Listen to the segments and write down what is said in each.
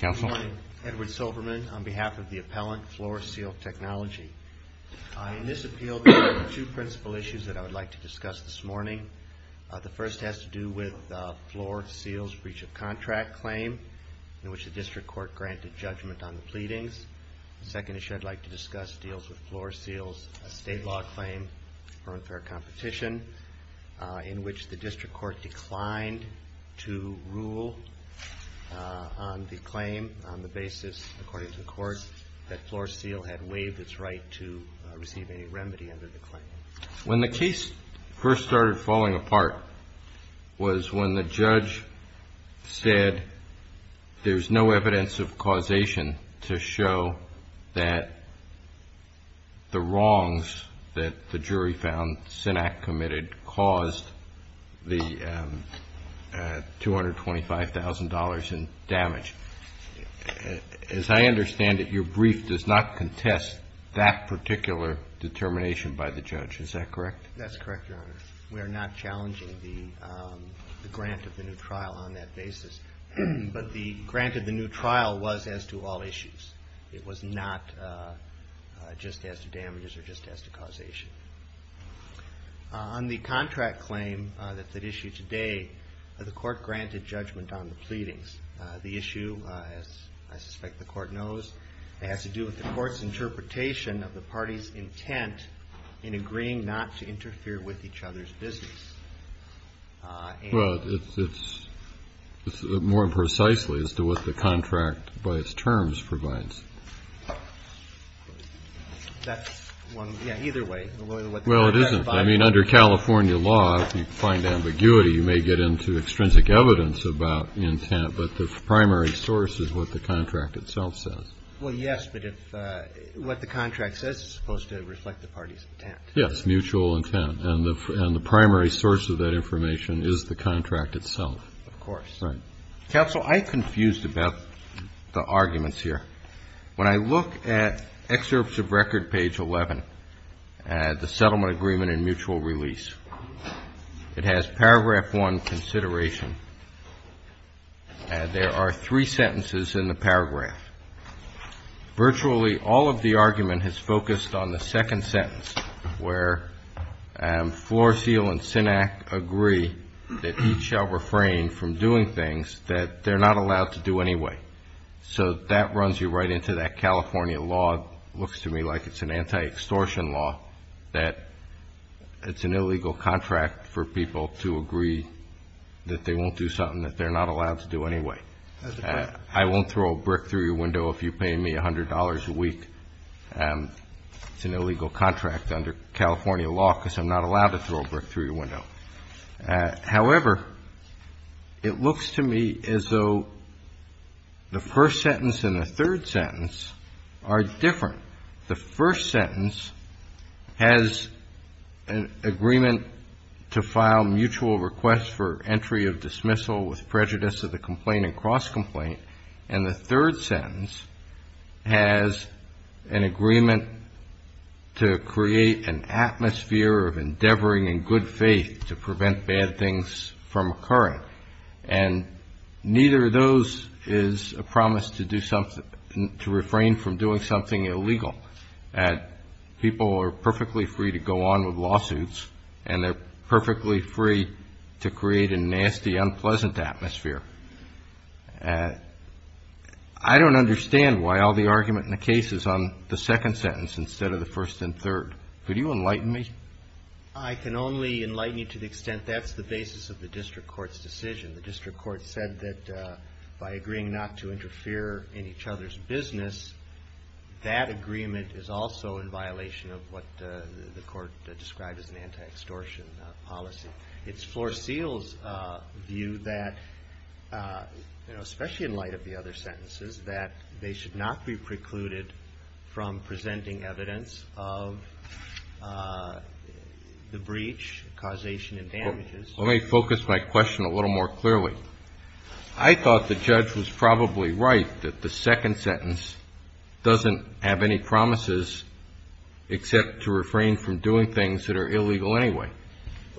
Good morning. Edward Silverman on behalf of the appellant, Floor Seal Technology. In this appeal, there are two principal issues that I would like to discuss this morning. The first has to do with Floor Seal's breach of contract claim, in which the district court granted judgment on the pleadings. The second issue I'd like to discuss deals with Floor Seal's estate law claim for unfair competition, in which the district court declined to rule on the claim on the basis, according to the court, that Floor Seal had waived its right to receive any remedy under the claim. When the case first started falling apart was when the judge said there's no evidence of causation to show that the wrongs that the jury found Sinak committed caused the $225,000 in damage. As I understand it, your brief does not contest that particular determination by the judge. Is that correct? That's correct, Your Honor. We are not challenging the grant of the new trial on that basis. But the grant of the new trial was as to all issues. It was not just as to damages or just as to causation. On the contract claim that's at issue today, the court granted judgment on the pleadings. The issue, as I suspect the court knows, has to do with the court's interpretation of the party's intent in agreeing not to interfere with each other's business. Well, it's more precisely as to what the contract by its terms provides. That's one. Yeah, either way. Well, it isn't. I mean, under California law, if you find ambiguity, you may get into extrinsic evidence about intent, but the primary source is what the contract itself says. Well, yes, but if what the contract says is supposed to reflect the party's intent. Yes, mutual intent. And the primary source of that information is the contract itself. Of course. Right. Counsel, I'm confused about the arguments here. When I look at excerpts of Record Page 11, the settlement agreement and mutual release, it has Paragraph 1 consideration. There are three sentences in the paragraph. Virtually all of the argument has focused on the second sentence, where Floor Seal and Synack agree that each shall refrain from doing things that they're not allowed to do anyway. So that runs you right into that California law. It looks to me like it's an anti-extortion law, that it's an illegal contract for people to agree that they won't do something that they're not allowed to do anyway. I won't throw a brick through your window if you pay me $100 a week. It's an illegal contract under California law because I'm not allowed to throw a brick through your window. However, it looks to me as though the first sentence and the third sentence are different. The first sentence has an agreement to file mutual requests for entry of dismissal with prejudice of the complaint and cross-complaint. And the third sentence has an agreement to create an atmosphere of endeavoring in good faith to prevent bad things from occurring. And neither of those is a promise to refrain from doing something illegal. People are perfectly free to go on with lawsuits, and they're perfectly free to create a nasty, unpleasant atmosphere. I don't understand why all the argument in the case is on the second sentence instead of the first and third. Could you enlighten me? I can only enlighten you to the extent that's the basis of the district court's decision. The district court said that by agreeing not to interfere in each other's business, that agreement is also in violation of what the court described as an anti-extortion policy. It's Floor Seal's view that, you know, especially in light of the other sentences, that they should not be precluded from presenting evidence of the breach, causation, and damages. Let me focus my question a little more clearly. I thought the judge was probably right that the second sentence doesn't have any promises except to refrain from doing things that are illegal anyway.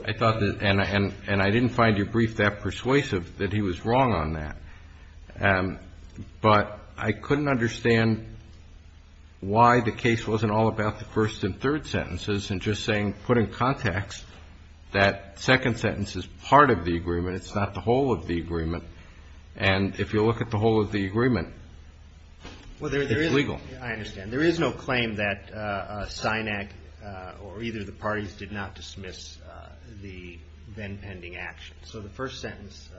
I thought that, and I didn't find your brief that persuasive, that he was wrong on that. But I couldn't understand why the case wasn't all about the first and third sentences and just saying, put in context, that second sentence is part of the agreement. It's not the whole of the agreement. And if you look at the whole of the agreement, it's legal. I understand. There is no claim that SINAC or either of the parties did not dismiss the then-pending action. So the first sentence,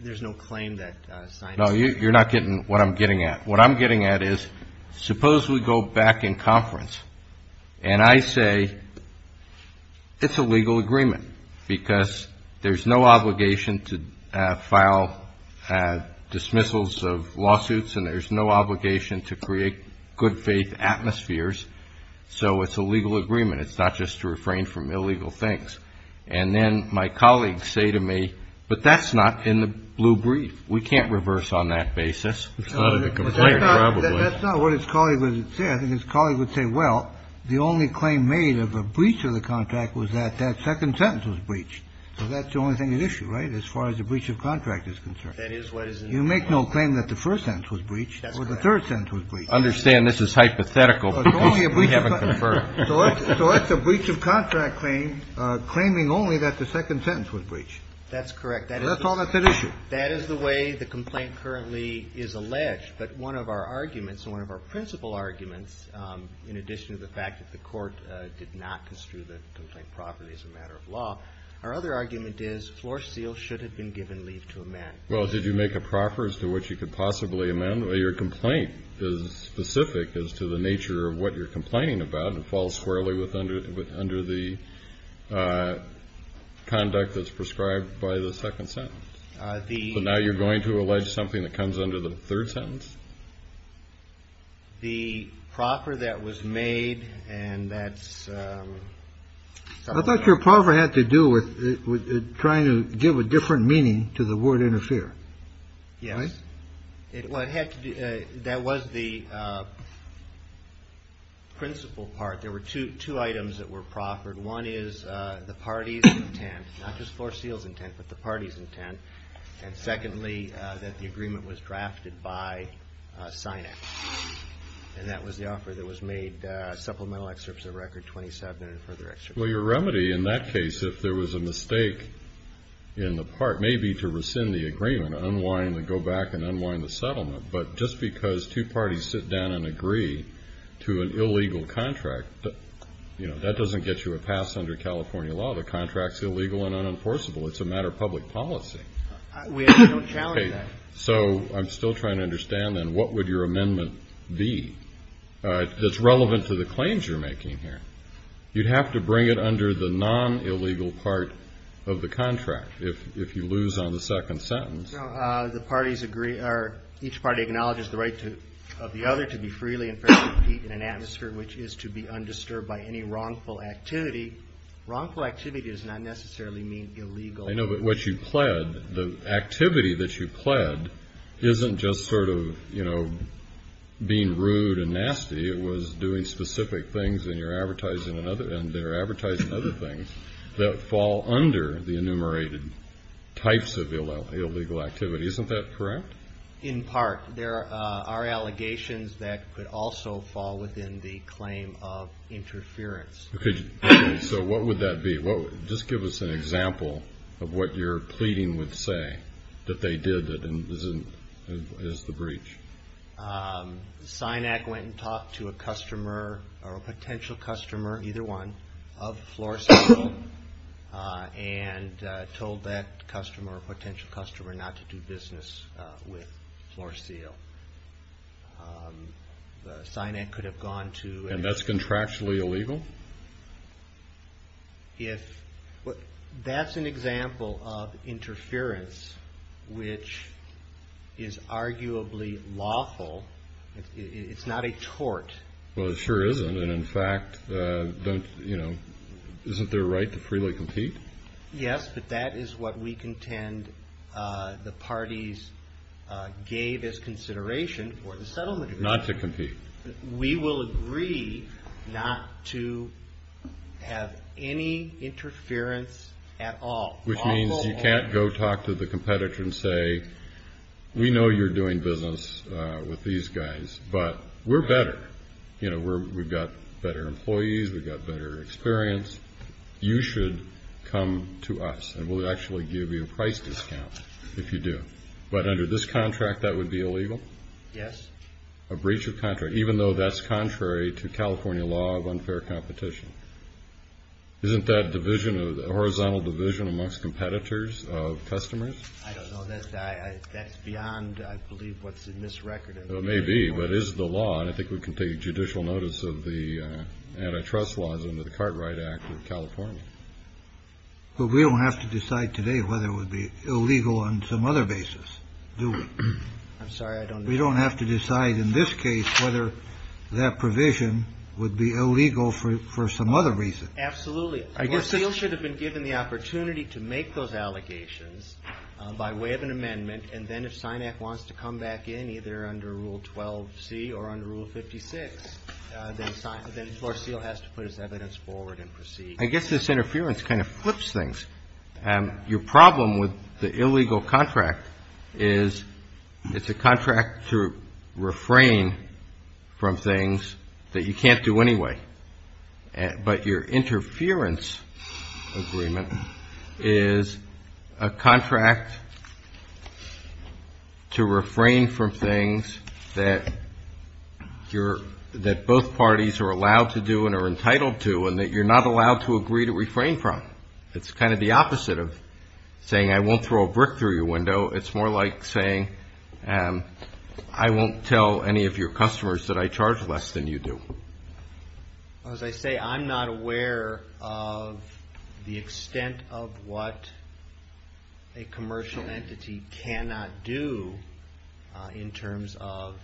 there's no claim that SINAC. No, you're not getting what I'm getting at. What I'm getting at is, suppose we go back in conference and I say it's a legal agreement because there's no obligation to file dismissals of lawsuits and there's no obligation to create good faith atmospheres. So it's a legal agreement. It's not just to refrain from illegal things. And then my colleagues say to me, but that's not in the blue brief. We can't reverse on that basis. It's not in the complaint, probably. That's not what his colleague would say. I think his colleague would say, well, the only claim made of a breach of the contract was that that second sentence was breached. So that's the only thing at issue, right, as far as the breach of contract is concerned. That is what is at issue. You make no claim that the first sentence was breached or the third sentence was breached. Understand this is hypothetical because we haven't confirmed. So that's a breach of contract claim claiming only that the second sentence was breached. That's correct. That's all that's at issue. That is the way the complaint currently is alleged. But one of our arguments, one of our principal arguments, in addition to the fact that the court did not construe the complaint properly as a matter of law, our other argument is floor seal should have been given leave to amend. Well, did you make a proffer as to what you could possibly amend? Well, your complaint is specific as to the nature of what you're complaining about. It falls squarely under the conduct that's prescribed by the second sentence. So now you're going to allege something that comes under the third sentence? The proffer that was made and that's. I thought your proffer had to do with trying to give a different meaning to the word interfere. Yes, it had to be. That was the principal part. There were two items that were proffered. One is the party's intent, not just floor seal's intent, but the party's intent. And secondly, that the agreement was drafted by Sinex. And that was the offer that was made, supplemental excerpts of record 27 and further excerpts. Well, your remedy in that case, if there was a mistake in the part, may be to rescind the agreement, unwind and go back and unwind the settlement. But just because two parties sit down and agree to an illegal contract, you know, that doesn't get you a pass under California law. The contract's illegal and unenforceable. It's a matter of public policy. We have no challenge to that. So I'm still trying to understand then what would your amendment be that's relevant to the claims you're making here? You'd have to bring it under the non-illegal part of the contract if you lose on the second sentence. No, the parties agree or each party acknowledges the right of the other to be freely and fairly compete in an atmosphere which is to be undisturbed by any wrongful activity. Wrongful activity does not necessarily mean illegal. I know, but what you pled, the activity that you pled isn't just sort of, you know, being rude and nasty. It was doing specific things and you're advertising another, and they're advertising other things that fall under the enumerated types of illegal activity. Isn't that correct? In part. There are allegations that could also fall within the claim of interference. So what would that be? Just give us an example of what you're pleading would say that they did as the breach. SINAC went and talked to a customer or a potential customer, either one, of Floor Seal and told that customer or potential customer not to do business with Floor Seal. SINAC could have gone to. And that's contractually illegal? That's an example of interference which is arguably lawful. It's not a tort. Well, it sure isn't. And, in fact, isn't there a right to freely compete? Yes, but that is what we contend the parties gave as consideration for the settlement agreement. Not to compete. We will agree not to have any interference at all. Which means you can't go talk to the competitor and say, we know you're doing business with these guys, but we're better. We've got better employees. We've got better experience. You should come to us, and we'll actually give you a price discount if you do. But under this contract, that would be illegal? Yes. A breach of contract, even though that's contrary to California law of unfair competition. Isn't that division of the horizontal division amongst competitors of customers? I don't know that that's beyond, I believe, what's in this record. It may be, but is the law. And I think we can take judicial notice of the antitrust laws under the Cartwright Act of California. But we don't have to decide today whether it would be illegal on some other basis. I'm sorry. We don't have to decide in this case whether that provision would be illegal for some other reason. Absolutely. Florcille should have been given the opportunity to make those allegations by way of an amendment. And then if SINAC wants to come back in, either under Rule 12C or under Rule 56, then Florcille has to put his evidence forward and proceed. I guess this interference kind of flips things. Your problem with the illegal contract is it's a contract to refrain from things that you can't do anyway. But your interference agreement is a contract to refrain from things that both parties are allowed to do and are entitled to and that you're not allowed to agree to refrain from. It's kind of the opposite of saying I won't throw a brick through your window. It's more like saying I won't tell any of your customers that I charge less than you do. As I say, I'm not aware of the extent of what a commercial entity cannot do in terms of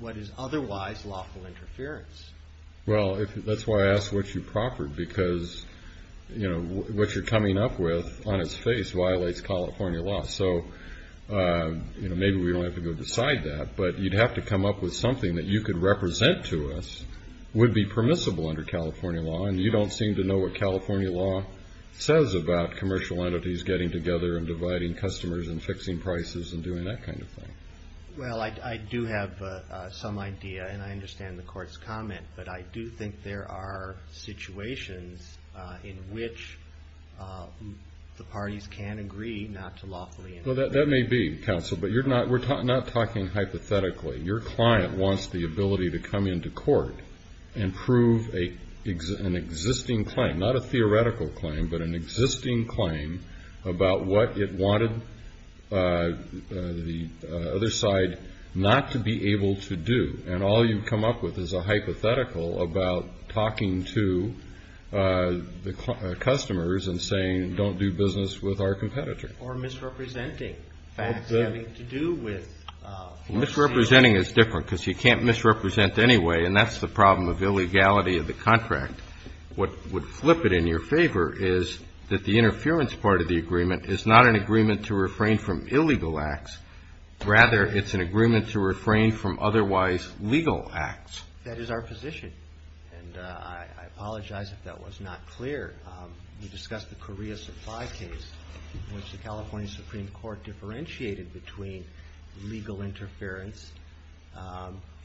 what is otherwise lawful interference. Well, that's why I asked what you proffered, because what you're coming up with on its face violates California law. So maybe we don't have to go beside that, but you'd have to come up with something that you could represent to us would be permissible under California law, and you don't seem to know what California law says about commercial entities getting together and dividing customers and fixing prices and doing that kind of thing. Well, I do have some idea, and I understand the Court's comment, but I do think there are situations in which the parties can agree not to lawfully interfere. Well, that may be, counsel, but we're not talking hypothetically. Your client wants the ability to come into court and prove an existing claim, not a theoretical claim, but an existing claim about what it wanted the other side not to be able to do, and all you've come up with is a hypothetical about talking to the customers and saying, don't do business with our competitor. Or misrepresenting facts having to do with. Misrepresenting is different, because you can't misrepresent anyway, and that's the problem of illegality of the contract. What would flip it in your favor is that the interference part of the agreement is not an agreement to refrain from illegal acts. Rather, it's an agreement to refrain from otherwise legal acts. That is our position, and I apologize if that was not clear. We discussed the Korea supply case, which the California Supreme Court differentiated between legal interference.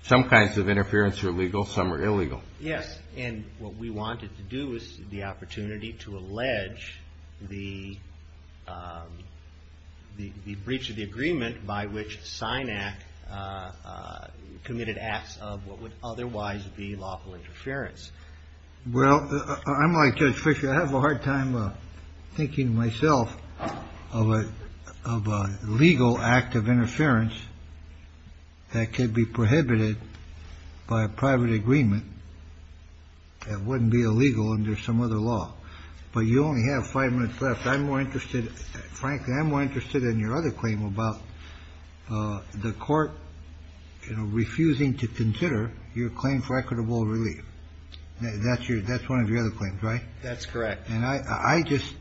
Some kinds of interference are legal. Some are illegal. Yes. And what we wanted to do was the opportunity to allege the breach of the agreement by which SINAC committed acts of what would otherwise be lawful interference. Well, I'm like Judge Fisher. I have a hard time thinking to myself of a legal act of interference that could be prohibited by a private agreement. That wouldn't be illegal under some other law. But you only have five minutes left. I'm more interested, frankly, I'm more interested in your other claim about the court, you know, refusing to consider your claim for equitable relief. That's one of your other claims, right? That's correct. And I just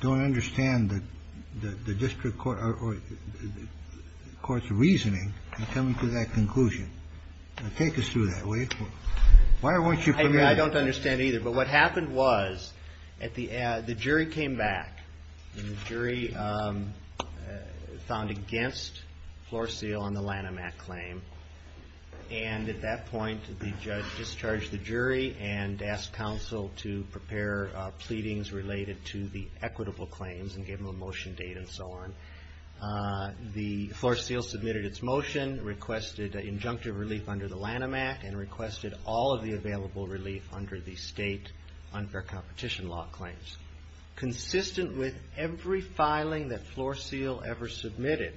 don't understand the district court or the court's reasoning in coming to that conclusion. Take us through that. Why don't you come in? I don't understand either. But what happened was, at the end, the jury came back. And the jury found against Floor Seal on the Lanham Act claim. And at that point, the judge discharged the jury and asked counsel to prepare pleadings related to the equitable claims and gave them a motion date and so on. The Floor Seal submitted its motion, requested injunctive relief under the Lanham Act, and requested all of the available relief under the state unfair competition law claims. Consistent with every filing that Floor Seal ever submitted,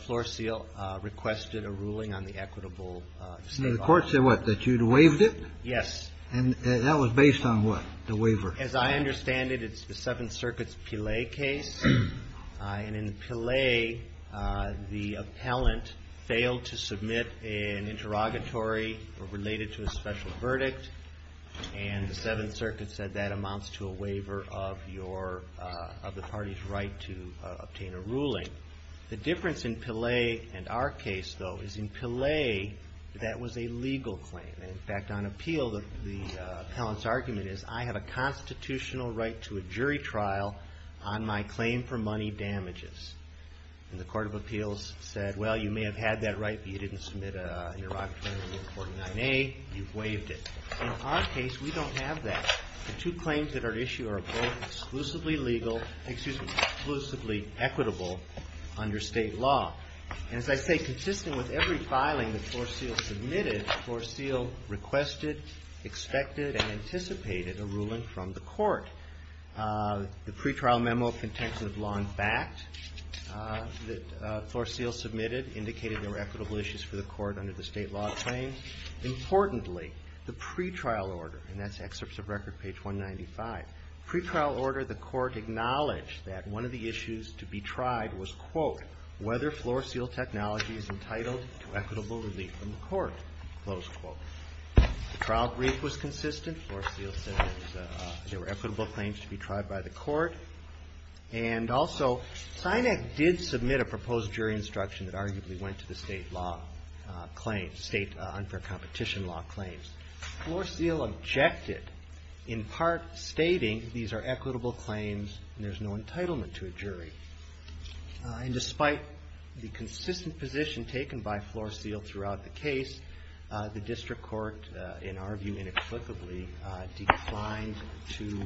Floor Seal requested a ruling on the equitable state law. So the court said what, that you'd waived it? Yes. And that was based on what, the waiver? As I understand it, it's the Seventh Circuit's Pillay case. And in Pillay, the appellant failed to submit an interrogatory related to a special verdict. And the Seventh Circuit said that amounts to a waiver of the party's right to obtain a ruling. The difference in Pillay and our case, though, is in Pillay, that was a legal claim. In fact, on appeal, the appellant's argument is, I have a constitutional right to a jury trial on my claim for money damages. And the Court of Appeals said, well, you may have had that right, but you didn't submit an interrogatory in 49A. You've waived it. In our case, we don't have that. The two claims that are at issue are both exclusively legal, excuse me, exclusively equitable under state law. And as I say, consistent with every filing that Flore-Seal submitted, Flore-Seal requested, expected, and anticipated a ruling from the court. The pretrial memo of contention of law and fact that Flore-Seal submitted indicated there were equitable issues for the court under the state law claim. Importantly, the pretrial order, and that's excerpts of record, page 195. Pretrial order, the court acknowledged that one of the issues to be tried was, quote, whether Flore-Seal technology is entitled to equitable relief from the court, close quote. The trial brief was consistent. Flore-Seal said there were equitable claims to be tried by the court. And also, Sinek did submit a proposed jury instruction that arguably went to the state law claims, state unfair competition law claims. Flore-Seal objected, in part stating these are equitable claims and there's no entitlement to a jury. And despite the consistent position taken by Flore-Seal throughout the case, the district court, in our view, inexplicably declined to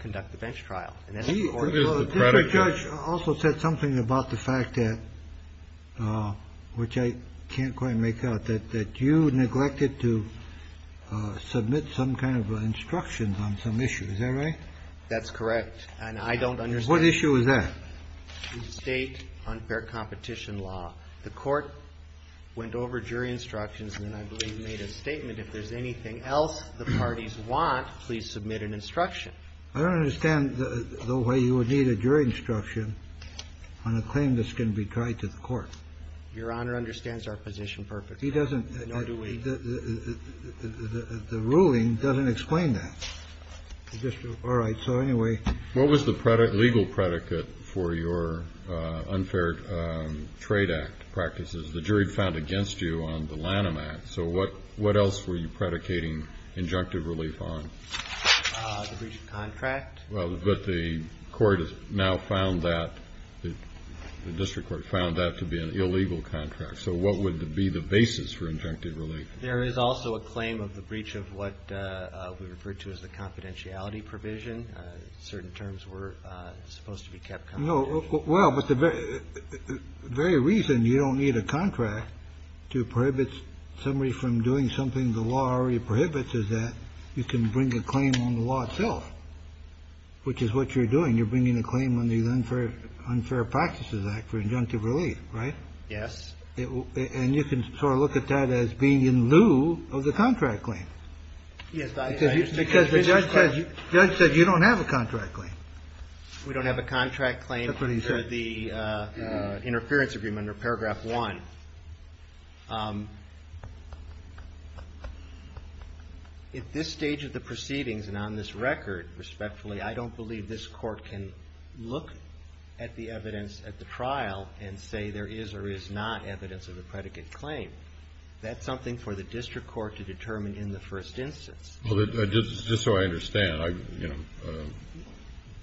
conduct the bench trial. And that's the court's fault. Kennedy. The district judge also said something about the fact that, which I can't quite make out, that you neglected to submit some kind of instructions on some issues. Is that right? That's correct. And I don't understand. What issue is that? The state unfair competition law. The court went over jury instructions and then, I believe, made a statement, if there's anything else the parties want, please submit an instruction. I don't understand the way you would need a jury instruction on a claim that's going to be tried to the court. Your Honor understands our position perfectly. He doesn't. The ruling doesn't explain that. All right. So anyway. What was the legal predicate for your unfair trade act practices? The jury found against you on the Lanham Act. So what else were you predicating injunctive relief on? The breach of contract. Well, but the court has now found that the district court found that to be an illegal contract. So what would be the basis for injunctive relief? There is also a claim of the breach of what we refer to as the confidentiality provision. Certain terms were supposed to be kept confidential. No. Well, but the very reason you don't need a contract to prohibit somebody from doing something the law already prohibits is that you can bring a claim on the law itself, which is what you're doing. You're bringing a claim on the unfair practices act for injunctive relief. Right. Yes. And you can sort of look at that as being in lieu of the contract claim. Yes. Because the judge said you don't have a contract claim. We don't have a contract claim. That's what he said. In regard to the interference agreement under paragraph one, at this stage of the proceedings and on this record, respectfully, I don't believe this court can look at the evidence at the trial and say there is or is not evidence of a predicate claim. That's something for the district court to determine in the first instance. Just so I understand, I'm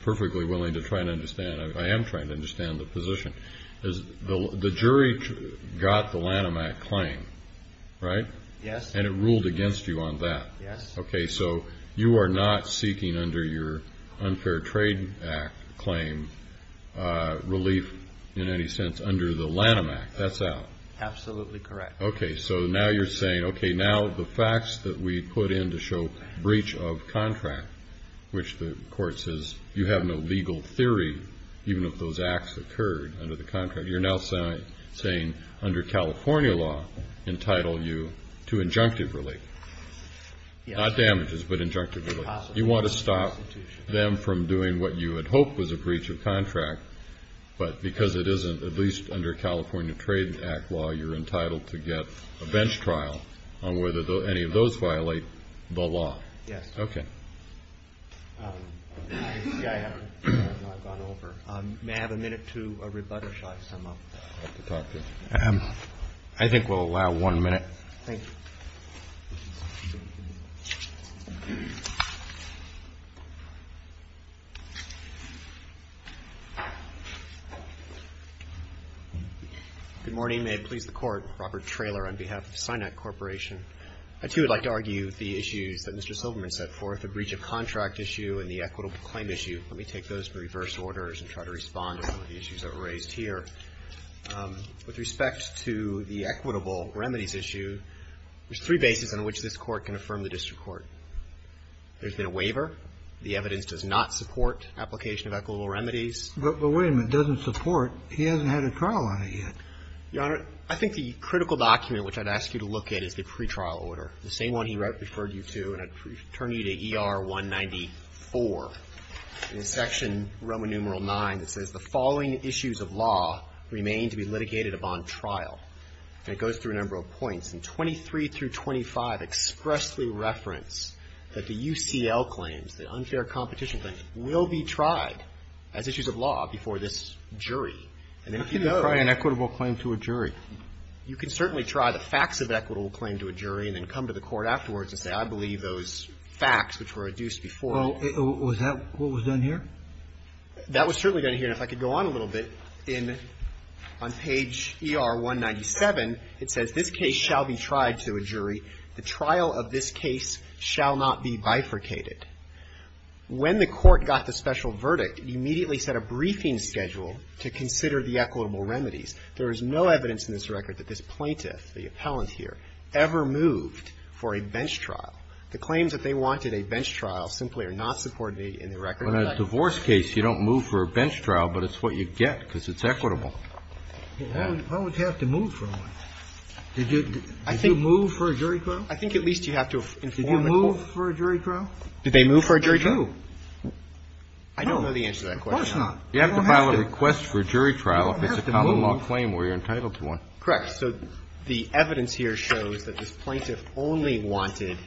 perfectly willing to try and understand. I am trying to understand the position. The jury got the Lanham Act claim, right? Yes. And it ruled against you on that. Yes. Okay. So you are not seeking under your unfair trade act claim relief in any sense under the Lanham Act. That's out. Absolutely correct. Okay. So now you're saying, okay, now the facts that we put in to show breach of contract, which the court says you have no legal theory, even if those acts occurred under the contract, you're now saying under California law entitle you to injunctive relief. Yes. Not damages, but injunctive relief. You want to stop them from doing what you had hoped was a breach of contract, but because it isn't, at least under California Trade Act law, you're entitled to get a bench trial on whether any of those violate the law. Yes. Okay. I have not gone over. May I have a minute to rebut or shall I sum up? I think we'll allow one minute. Thank you. Good morning. May it please the Court. Robert Traylor on behalf of SINAC Corporation. I, too, would like to argue the issues that Mr. Silverman set forth, the breach of contract issue and the equitable claim issue. Let me take those in reverse orders and try to respond to some of the issues that were raised here. With respect to the equitable remedies issue, there's three bases on which this Court can affirm the district court. There's been a waiver. The evidence does not support application of equitable remedies. But wait a minute. It doesn't support. He hasn't had a trial on it yet. Your Honor, I think the critical document which I'd ask you to look at is the pretrial order, the same one he referred you to. And I'd turn you to ER 194 in section Roman numeral 9 that says, The following issues of law remain to be litigated upon trial. And it goes through a number of points. And 23 through 25 expressly reference that the UCL claims, the unfair competition claims, will be tried as issues of law before this jury. How can you try an equitable claim to a jury? You can certainly try the facts of an equitable claim to a jury and then come to the court afterwards and say, I believe those facts which were reduced before. Well, was that what was done here? That was certainly done here. And if I could go on a little bit, on page ER 197, it says, This case shall be tried to a jury. The trial of this case shall not be bifurcated. When the Court got the special verdict, it immediately set a briefing schedule to consider the equitable remedies. There is no evidence in this record that this plaintiff, the appellant here, ever moved for a bench trial. The claims that they wanted a bench trial simply are not supported in the record. In a divorce case, you don't move for a bench trial, but it's what you get because it's equitable. How would you have to move for one? Did you move for a jury trial? I think at least you have to inform the Court. Did you move for a jury trial? Did they move for a jury trial? No. I don't know the answer to that question. Of course not. You have to file a request for a jury trial if it's a common law claim where you're entitled to one. Correct. So the evidence here shows that this plaintiff only wanted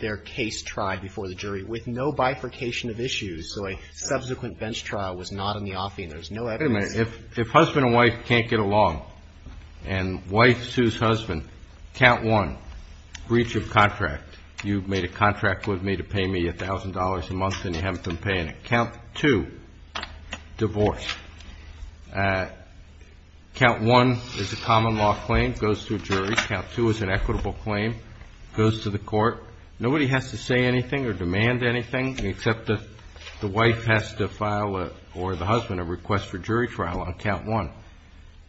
their case tried before the jury with no bifurcation of issues. So a subsequent bench trial was not on the offing. There's no evidence. Wait a minute. If husband and wife can't get along and wife sues husband, count one, breach of contract. You've made a contract with me to pay me $1,000 a month and you haven't been paying me $1,000. Count two, divorce. Count one is a common law claim, goes to a jury. Count two is an equitable claim, goes to the Court. Nobody has to say anything or demand anything except that the wife has to file or the husband a request for jury trial on count one.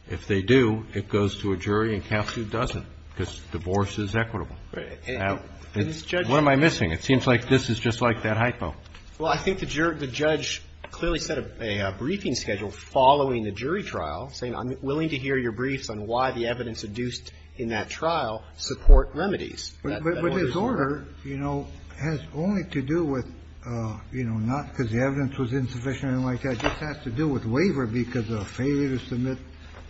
If they do, it goes to a jury and count two doesn't because divorce is equitable. What am I missing? It seems like this is just like that hypo. Well, I think the judge clearly set a briefing schedule following the jury trial saying I'm willing to hear your briefs on why the evidence induced in that trial support remedies. But this order, you know, has only to do with, you know, not because the evidence was insufficient or anything like that. It just has to do with waiver because of failure to submit,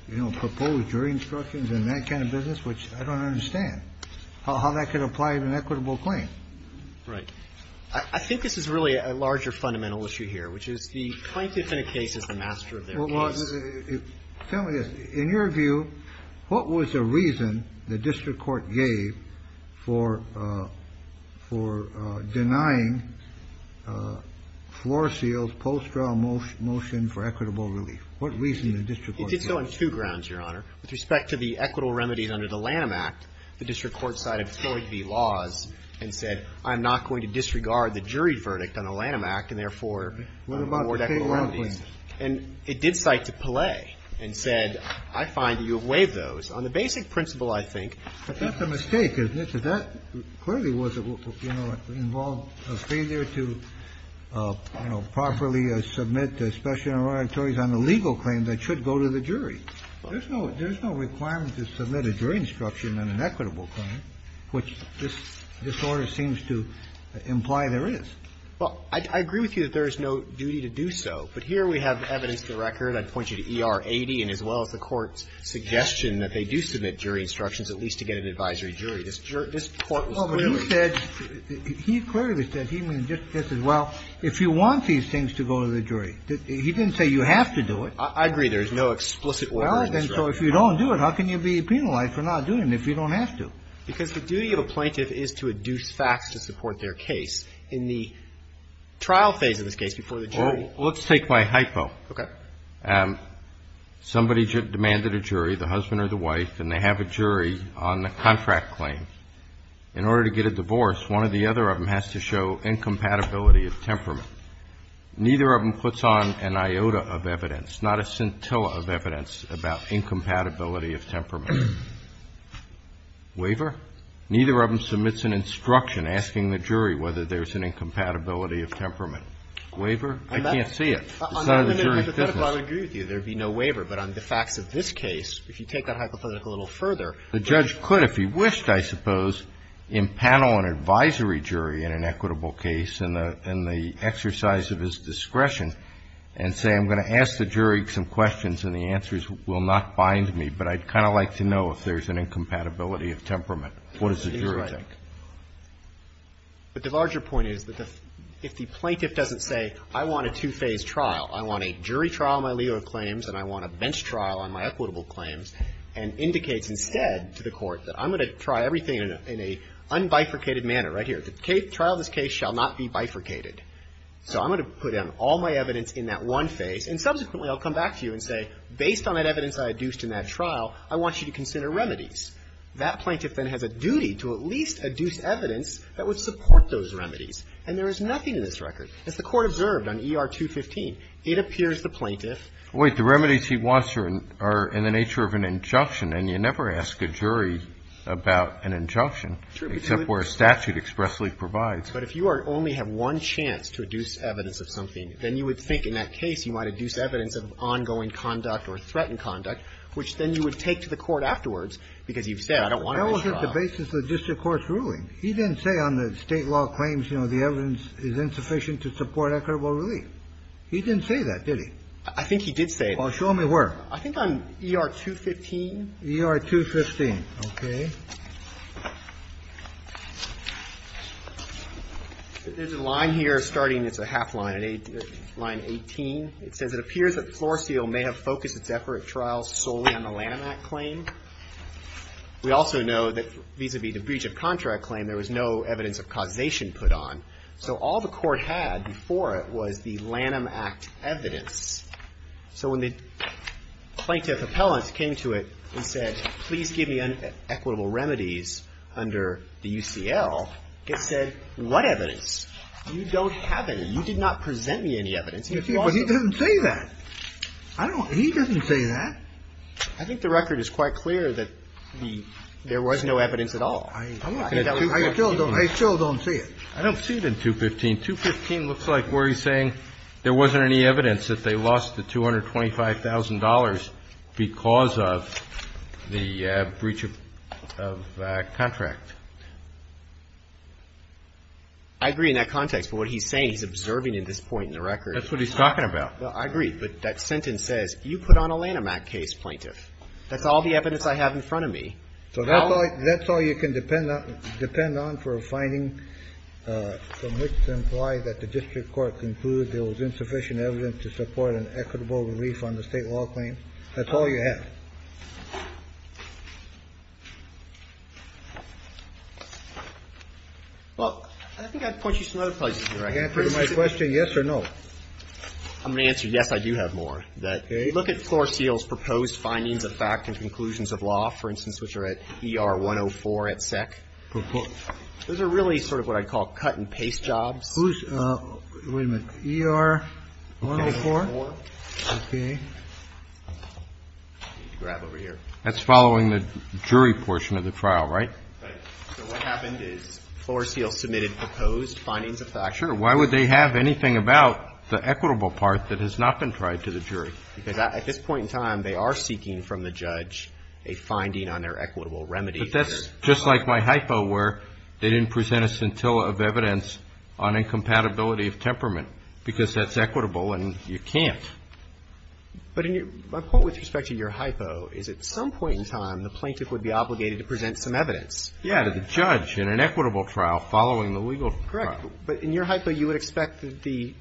you know, proposed jury instructions and that kind of business, which I don't understand how that could apply to an equitable claim. Right. I think this is really a larger fundamental issue here, which is the plaintiff in a case is the master of their case. Well, tell me this. In your view, what was the reason the district court gave for denying Floor Seal's post-trial motion for equitable relief? What reason did the district court give? It did so on two grounds, Your Honor. With respect to the equitable remedies under the Lanham Act, the district court decided it was going to be laws and said, I'm not going to disregard the jury verdict on the Lanham Act and, therefore, award equitable remedies. And it did cite to Pallay and said, I find that you have waived those. On the basic principle, I think that that's a mistake, isn't it? Because that clearly was, you know, involved a failure to, you know, properly submit the Special Enrollment Ordinatories on a legal claim that should go to the jury. There's no requirement to submit a jury instruction on an equitable claim, which this order seems to imply there is. Well, I agree with you that there is no duty to do so. But here we have evidence to the record. I'd point you to ER 80 and as well as the Court's suggestion that they do submit jury instructions at least to get an advisory jury. This Court was clearly said. Well, but he said, he clearly said, he said, well, if you want these things to go to the jury, he didn't say you have to do it. I agree there is no explicit order in this case. Well, then, so if you don't do it, how can you be penalized for not doing it if you don't have to? Because the duty of a plaintiff is to adduce facts to support their case. In the trial phase of this case, before the jury ---- Well, let's take my hypo. Okay. Somebody demanded a jury, the husband or the wife, and they have a jury on the contract claim. In order to get a divorce, one of the other of them has to show incompatibility of temperament. Neither of them puts on an iota of evidence, not a scintilla of evidence, about incompatibility of temperament. Waiver? Neither of them submits an instruction asking the jury whether there's an incompatibility of temperament. Waiver? I can't see it. It's not in the jury's business. I would agree with you. There would be no waiver. But on the facts of this case, if you take that hypothetical a little further The judge could, if he wished, I suppose, impanel an advisory jury in an equitable case in the exercise of his discretion and say, I'm going to ask the jury some questions and the answers will not bind me, but I'd kind of like to know if there's an incompatibility of temperament. What does the jury think? But the larger point is that if the plaintiff doesn't say, I want a two-phase trial, I want a jury trial on my legal claims and I want a bench trial on my equitable claims, and indicates instead to the Court that I'm going to try everything in a unbifurcated manner. Right here. The trial of this case shall not be bifurcated. So I'm going to put down all my evidence in that one phase, and subsequently I'll come back to you and say, based on that evidence I adduced in that trial, I want you to consider remedies. That plaintiff then has a duty to at least adduce evidence that would support those remedies. And there is nothing in this record. As the Court observed on ER 215, it appears the plaintiff Wait. The remedies he wants are in the nature of an injunction, and you never ask a jury about an injunction. True. Except where a statute expressly provides. But if you only have one chance to adduce evidence of something, then you would think in that case you might adduce evidence of ongoing conduct or threatened conduct, which then you would take to the Court afterwards, because you've said, I don't want a bench trial. That was at the basis of the district court's ruling. He didn't say on the State law claims, you know, the evidence is insufficient to support equitable relief. He didn't say that, did he? I think he did say that. Well, show me where. I think on ER 215. ER 215. Okay. There's a line here starting, it's a half line, line 18. It says, it appears that Floor Seal may have focused its effort at trials solely on the Lanham Act claim. We also know that vis-à-vis the breach of contract claim, there was no evidence of causation put on. So all the Court had before it was the Lanham Act evidence. So when the plaintiff appellant came to it and said, please give me an equitable remedies under the UCL, it said, what evidence? You don't have any. You did not present me any evidence. But he didn't say that. He didn't say that. I think the record is quite clear that there was no evidence at all. I still don't see it. I don't see it in 215. 215 looks like where he's saying there wasn't any evidence that they lost the $225,000 because of the breach of contract. I agree in that context. But what he's saying, he's observing at this point in the record. That's what he's talking about. I agree. But that sentence says, you put on a Lanham Act case, plaintiff. That's all the evidence I have in front of me. So that's all you can depend on for a finding from which to imply that the district is guilty. That's all you have. Well, I think I'd point you to some other places in the record. Answer my question, yes or no. I'm going to answer yes, I do have more. Look at Floor Seal's proposed findings of fact and conclusions of law, for instance, which are at ER 104 at SEC. Those are really sort of what I'd call cut and paste jobs. Wait a minute. ER 104? I need to grab over here. That's following the jury portion of the trial, right? Right. So what happened is Floor Seal submitted proposed findings of fact. Sure. Why would they have anything about the equitable part that has not been tried to the jury? Because at this point in time, they are seeking from the judge a finding on their equitable remedy. But that's just like my hypo where they didn't present a scintilla of evidence on incompatibility of temperament because that's equitable and you can't. But my point with respect to your hypo is at some point in time, the plaintiff would be obligated to present some evidence. Yeah, to the judge in an equitable trial following the legal trial. Correct. But in your hypo, you would expect the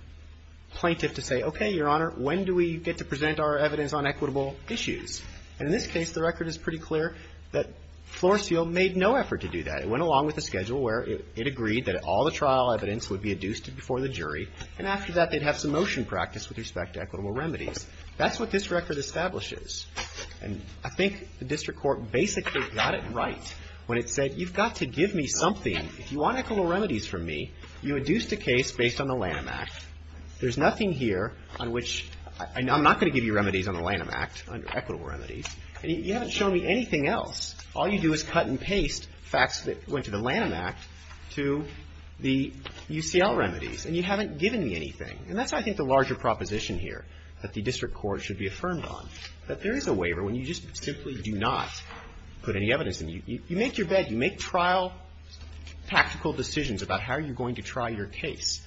plaintiff to say, okay, Your Honor, when do we get to present our evidence on equitable issues? And in this case, the record is pretty clear that Floor Seal made no effort to do that. It went along with the schedule where it agreed that all the trial evidence would be adduced before the jury, and after that, they'd have some motion practice with respect to equitable remedies. That's what this record establishes. And I think the district court basically got it right when it said, you've got to give me something. If you want equitable remedies from me, you adduced a case based on the Lanham Act. There's nothing here on which I'm not going to give you remedies on the Lanham Act on equitable remedies. And you haven't shown me anything else. All you do is cut and paste facts that went to the Lanham Act to the UCL remedies. And you haven't given me anything. And that's, I think, the larger proposition here that the district court should be affirmed on, that there is a waiver when you just simply do not put any evidence in. You make your bed. You make trial tactical decisions about how you're going to try your case.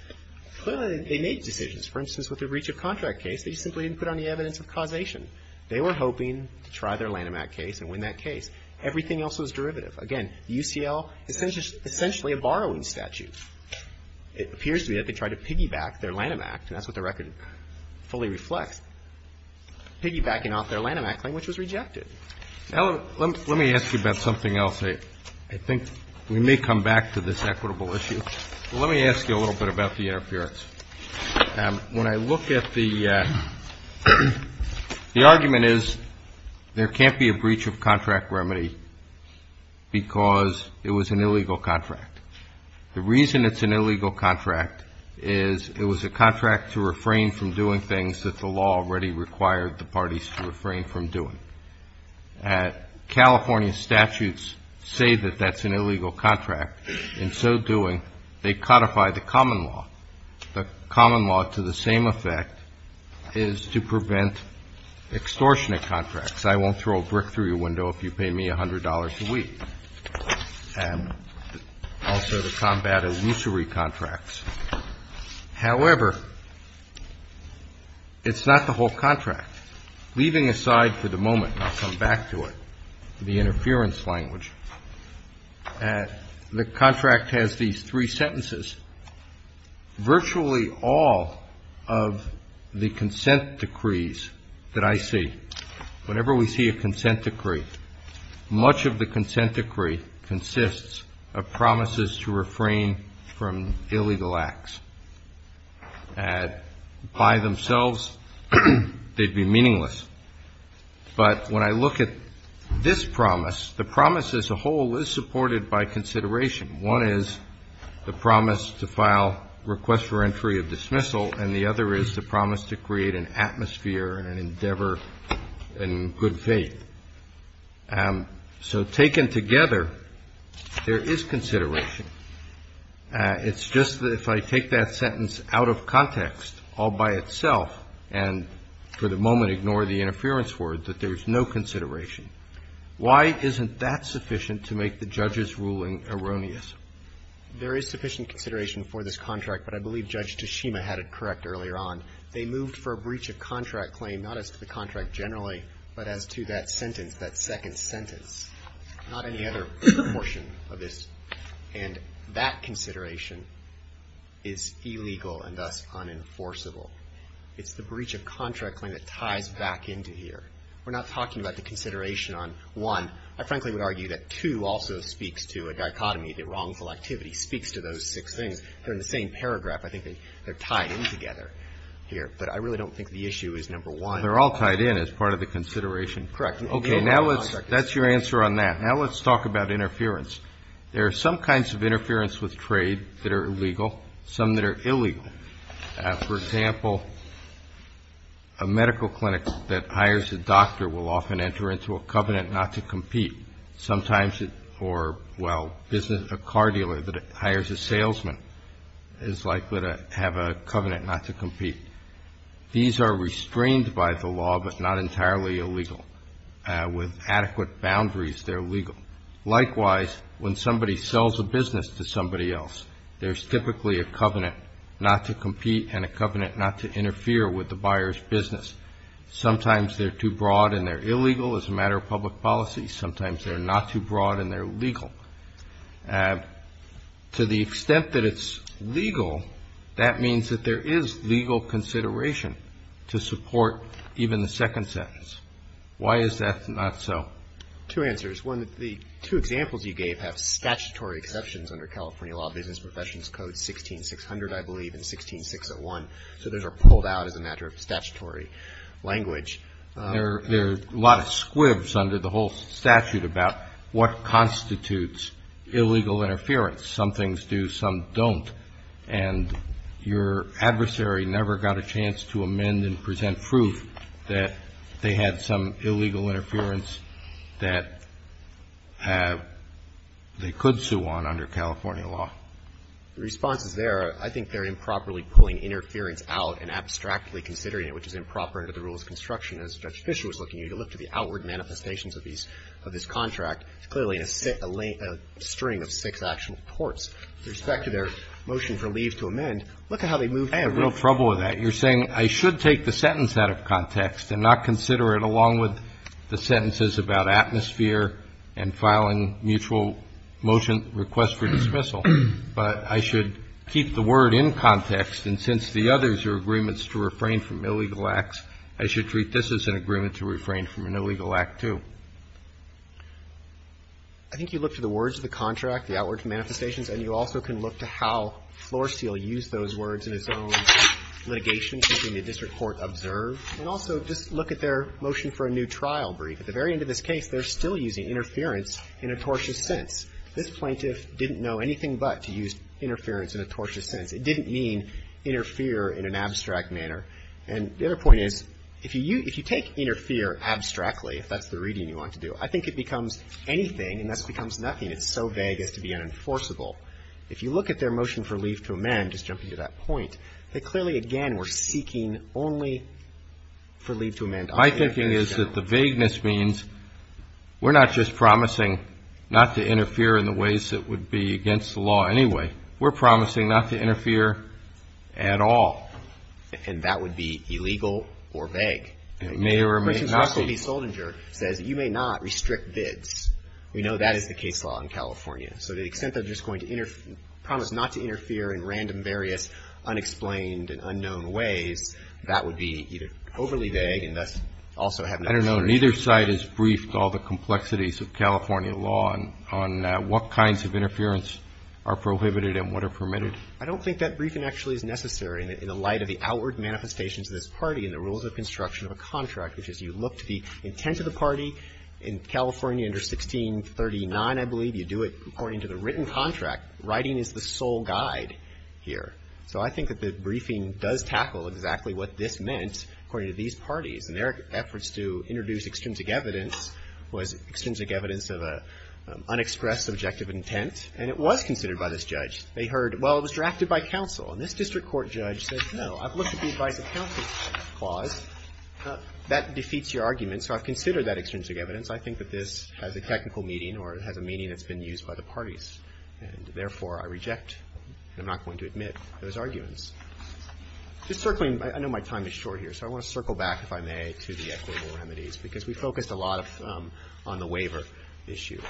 Clearly, they made decisions. For instance, with the breach of contract case, they simply didn't put on the evidence of causation. They were hoping to try their Lanham Act case and win that case. Everything else was derivative. Again, the UCL is essentially a borrowing statute. It appears to me that they tried to piggyback their Lanham Act, and that's what the record fully reflects, piggybacking off their Lanham Act claim, which was rejected. Now, let me ask you about something else. I think we may come back to this equitable issue. Let me ask you a little bit about the interference. When I look at the argument is there can't be a breach of contract remedy because it was an illegal contract. The reason it's an illegal contract is it was a contract to refrain from doing things that the law already required the parties to refrain from doing. California statutes say that that's an illegal contract. In so doing, they codify the common law. The common law to the same effect is to prevent extortionate contracts. I won't throw a brick through your window if you pay me $100 a week. And also the combat illusory contracts. However, it's not the whole contract. Leaving aside for the moment, and I'll come back to it, the interference language, the contract has these three sentences. Virtually all of the consent decrees that I see, whenever we see a consent decree, much of the consent decree consists of promises to refrain from illegal acts. By themselves, they'd be meaningless. But when I look at this promise, the promise as a whole is supported by consideration. One is the promise to file request for entry of dismissal, and the other is the promise to create an atmosphere, an endeavor, and good faith. So taken together, there is consideration. It's just that if I take that sentence out of context all by itself and for the moment ignore the interference words, that there's no consideration. Why isn't that sufficient to make the judge's ruling erroneous? There is sufficient consideration for this contract, but I believe Judge Tashima had it correct earlier on. They moved for a breach of contract claim not as to the contract generally, but as to that sentence, that second sentence. Not any other portion of this. And that consideration is illegal and thus unenforceable. It's the breach of contract claim that ties back into here. We're not talking about the consideration on one. I frankly would argue that two also speaks to a dichotomy. The wrongful activity speaks to those six things. They're in the same paragraph. I think they're tied in together here. But I really don't think the issue is number one. They're all tied in as part of the consideration. Correct. Okay. Now let's – that's your answer on that. Now let's talk about interference. There are some kinds of interference with trade that are illegal, some that are illegal. For example, a medical clinic that hires a doctor will often enter into a covenant not to compete. Sometimes it – or, well, a car dealer that hires a salesman is likely to have a covenant not to compete. These are restrained by the law, but not entirely illegal. With adequate boundaries, they're legal. Likewise, when somebody sells a business to somebody else, there's typically a covenant not to compete and a covenant not to interfere with the buyer's business. Sometimes they're too broad and they're illegal as a matter of public policy. Sometimes they're not too broad and they're legal. To the extent that it's legal, that means that there is legal consideration to support even the second sentence. Why is that not so? Well, two answers. One, the two examples you gave have statutory exceptions under California Law, Business Professions Code 16600, I believe, and 16601. So those are pulled out as a matter of statutory language. There are a lot of squibs under the whole statute about what constitutes illegal interference. Some things do, some don't. And your adversary never got a chance to amend and present proof that they had some illegal interference that they could sue on under California law. The response is there. I think they're improperly pulling interference out and abstractly considering it, which is improper under the rules of construction. As Judge Fischer was looking, you can look to the outward manifestations of these, of this contract. It's clearly a string of six actual courts. With respect to their motion for leave to amend, look at how they move through it. I have real trouble with that. You're saying I should take the sentence out of context and not consider it along with the sentences about atmosphere and filing mutual motion request for dismissal. But I should keep the word in context, and since the others are agreements to refrain from illegal acts, I should treat this as an agreement to refrain from an illegal act, too. I think you look to the words of the contract, the outward manifestations, and you also can look to how Floor Steel used those words in its own litigation between the district court observed. And also just look at their motion for a new trial brief. At the very end of this case, they're still using interference in a tortious sense. This plaintiff didn't know anything but to use interference in a tortious sense. It didn't mean interfere in an abstract manner. And the other point is, if you take interfere abstractly, if that's the reading you want to do, I think it becomes anything and thus becomes nothing. It's so vague as to be unenforceable. If you look at their motion for leave to amend, just jumping to that point, they clearly, again, were seeking only for leave to amend. My thinking is that the vagueness means we're not just promising not to interfere in the ways that would be against the law anyway. We're promising not to interfere at all. And that would be illegal or vague. It may or may not be. Mr. B. Soldinger says you may not restrict bids. We know that is the case law in California. So the extent that we're just going to promise not to interfere in random, various, unexplained and unknown ways, that would be either overly vague and thus also have no assurance. I don't know. Neither side has briefed all the complexities of California law on what kinds of interference are prohibited and what are permitted. I don't think that briefing actually is necessary in the light of the outward manifestations of this party and the rules of construction of a contract, which is you look to the intent of the party. In California under 1639, I believe, you do it according to the written contract. Writing is the sole guide here. So I think that the briefing does tackle exactly what this meant according to these parties. And their efforts to introduce extrinsic evidence was extrinsic evidence of an unexpressed subjective intent. And it was considered by this judge. They heard, well, it was drafted by counsel. And this district court judge said, no, I've looked at the advice of counsel clause. That defeats your argument. So I've considered that extrinsic evidence. I think that this has a technical meaning or it has a meaning that's been used by the parties. And therefore, I reject. I'm not going to admit those arguments. Just circling, I know my time is short here. So I want to circle back, if I may, to the equitable remedies because we focused a lot of them on the waiver issue.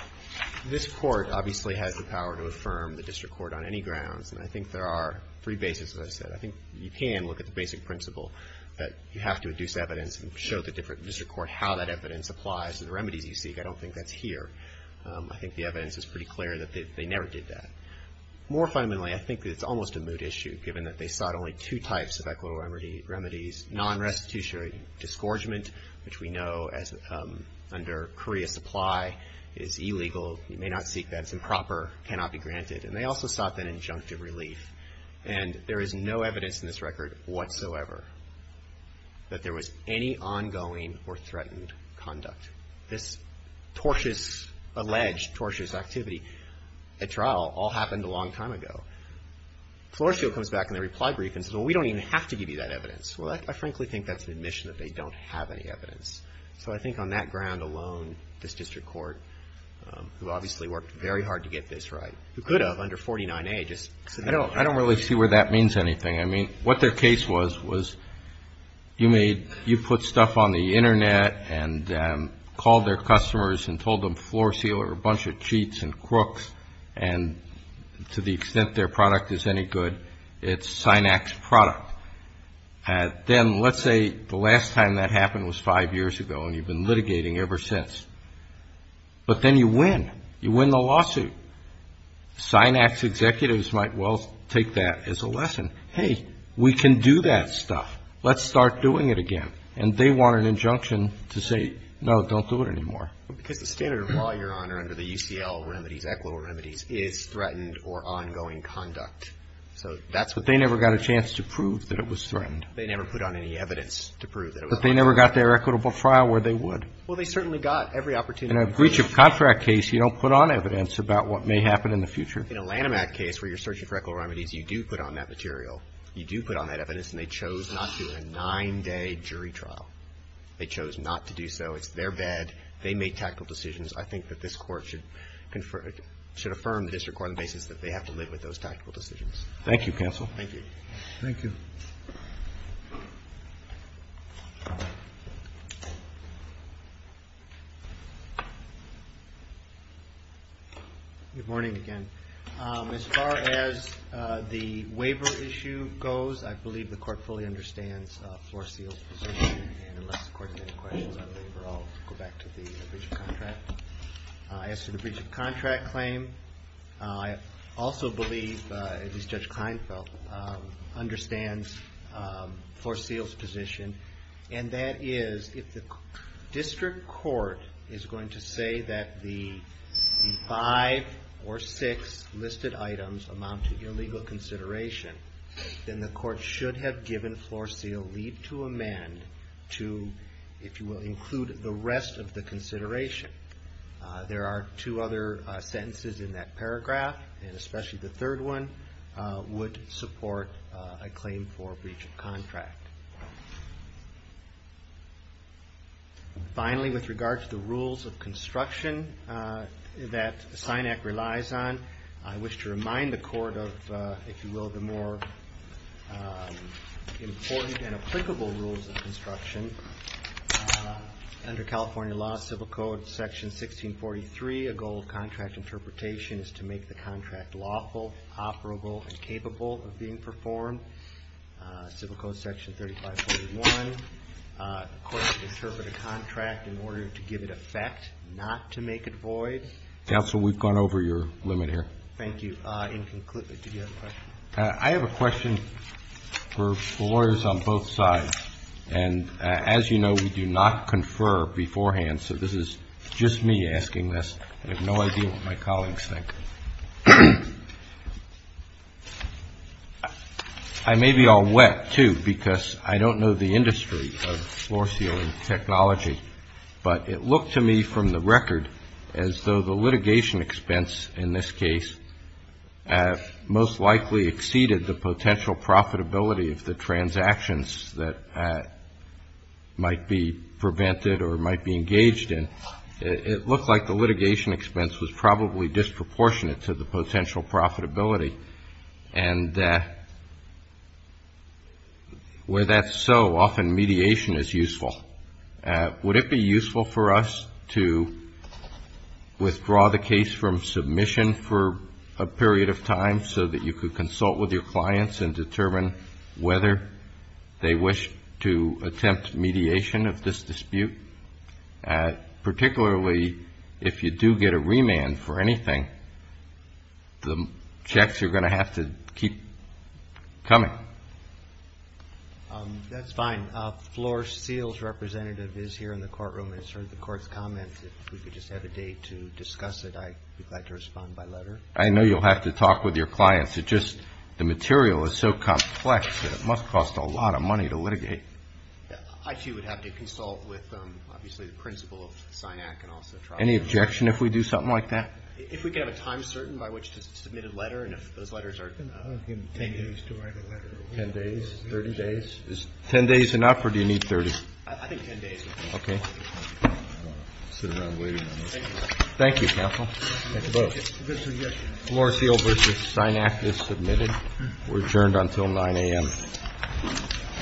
This court obviously has the power to affirm the district court on any grounds. And I think there are three bases, as I said. I think you can look at the basic principle that you have to induce evidence and show the different district court how that evidence applies to the remedies you seek. I don't think that's here. I think the evidence is pretty clear that they never did that. More fundamentally, I think that it's almost a moot issue given that they sought only two types of equitable remedies, non-restitutionary disgorgement, which we know as under Korea supply is illegal. You may not seek that. It's improper. It cannot be granted. And they also sought that injunctive relief. And there is no evidence in this record whatsoever that there was any ongoing or threatened conduct. This tortuous, alleged tortuous activity, a trial, all happened a long time ago. Floresville comes back in their reply brief and says, well, we don't even have to give you that evidence. Well, I frankly think that's an admission that they don't have any evidence. So I think on that ground alone, this district court, who obviously worked very hard to get this right, who could have under 49A, just said no. I don't really see where that means anything. I mean, what their case was, was you made you put stuff on the Internet and called their customers and told them floor sealer, a bunch of cheats and crooks, and to the extent their product is any good, it's Synax product. Then let's say the last time that happened was five years ago and you've been litigating ever since. But then you win. You win the lawsuit. Synax executives might well take that as a lesson. Hey, we can do that stuff. Let's start doing it again. And they want an injunction to say, no, don't do it anymore. Because the standard of law, Your Honor, under the UCL remedies, ECLO remedies, is threatened or ongoing conduct. So that's what they never got a chance to prove, that it was threatened. They never put on any evidence to prove that it was threatened. But they never got their equitable trial where they would. Well, they certainly got every opportunity. In a breach of contract case, you don't put on evidence about what may happen in the future. In a Lanham Act case where you're searching for ECLO remedies, you do put on that material. You do put on that evidence. And they chose not to do a nine-day jury trial. They chose not to do so. It's their bed. They made tactical decisions. I think that this Court should affirm the district court on the basis that they have to live with those tactical decisions. Thank you, counsel. Thank you. Thank you. Good morning again. As far as the waiver issue goes, I believe the Court fully understands Floor Seal's position. And unless the Court has any questions on the waiver, I'll go back to the breach of contract. As to the breach of contract claim, I also believe, at least Judge Kleinfeld, understands Floor Seal's position. And that is, if the district court is going to say that the five or six listed items amount to illegal consideration, then the Court should have given Floor Seal leave to amend to, if you will, include the rest of the consideration. There are two other sentences in that paragraph, and especially the third one would support a claim for breach of contract. Finally, with regard to the rules of construction that SINAC relies on, I wish to remind the Court of, if you will, the more important and applicable rules of construction. Under California law, Civil Code Section 1643, a goal of contract interpretation is to make the contract lawful, operable, and capable of being performed. Civil Code Section 3541, the Court should interpret a contract in order to give it effect, not to make it void. Counsel, we've gone over your limit here. Thank you. Inconclusively, did you have a question? I have a question for the lawyers on both sides. And as you know, we do not confer beforehand, so this is just me asking this. I have no idea what my colleagues think. I may be all wet, too, because I don't know the industry of floor sealing technology, but it looked to me from the record as though the litigation expense in this case most likely exceeded the potential profitability of the transactions that might be prevented or might be engaged in. It looked like the litigation expense was probably disproportionate to the potential profitability. And where that's so, often mediation is useful. Would it be useful for us to withdraw the case from submission for a period of time so that you could consult with your clients and determine whether they wish to attempt mediation of this dispute? Particularly if you do get a remand for anything, the checks are going to have to keep coming. That's fine. Floor seals representative is here in the courtroom and has heard the court's comments. If we could just have a day to discuss it, I'd be glad to respond by letter. I know you'll have to talk with your clients. It's just the material is so complex that it must cost a lot of money to litigate. I, too, would have to consult with, obviously, the principal of SINAC and also trial lawyers. Any objection if we do something like that? If we could have a time certain by which to submit a letter and if those letters are Ten days to write a letter. Ten days? Thirty days? Is ten days enough or do you need thirty? I think ten days would be fine. Okay. I'll sit around waiting on this. Thank you, counsel. Thank you both. Floor seal versus SINAC is submitted. We're adjourned until 9 a.m.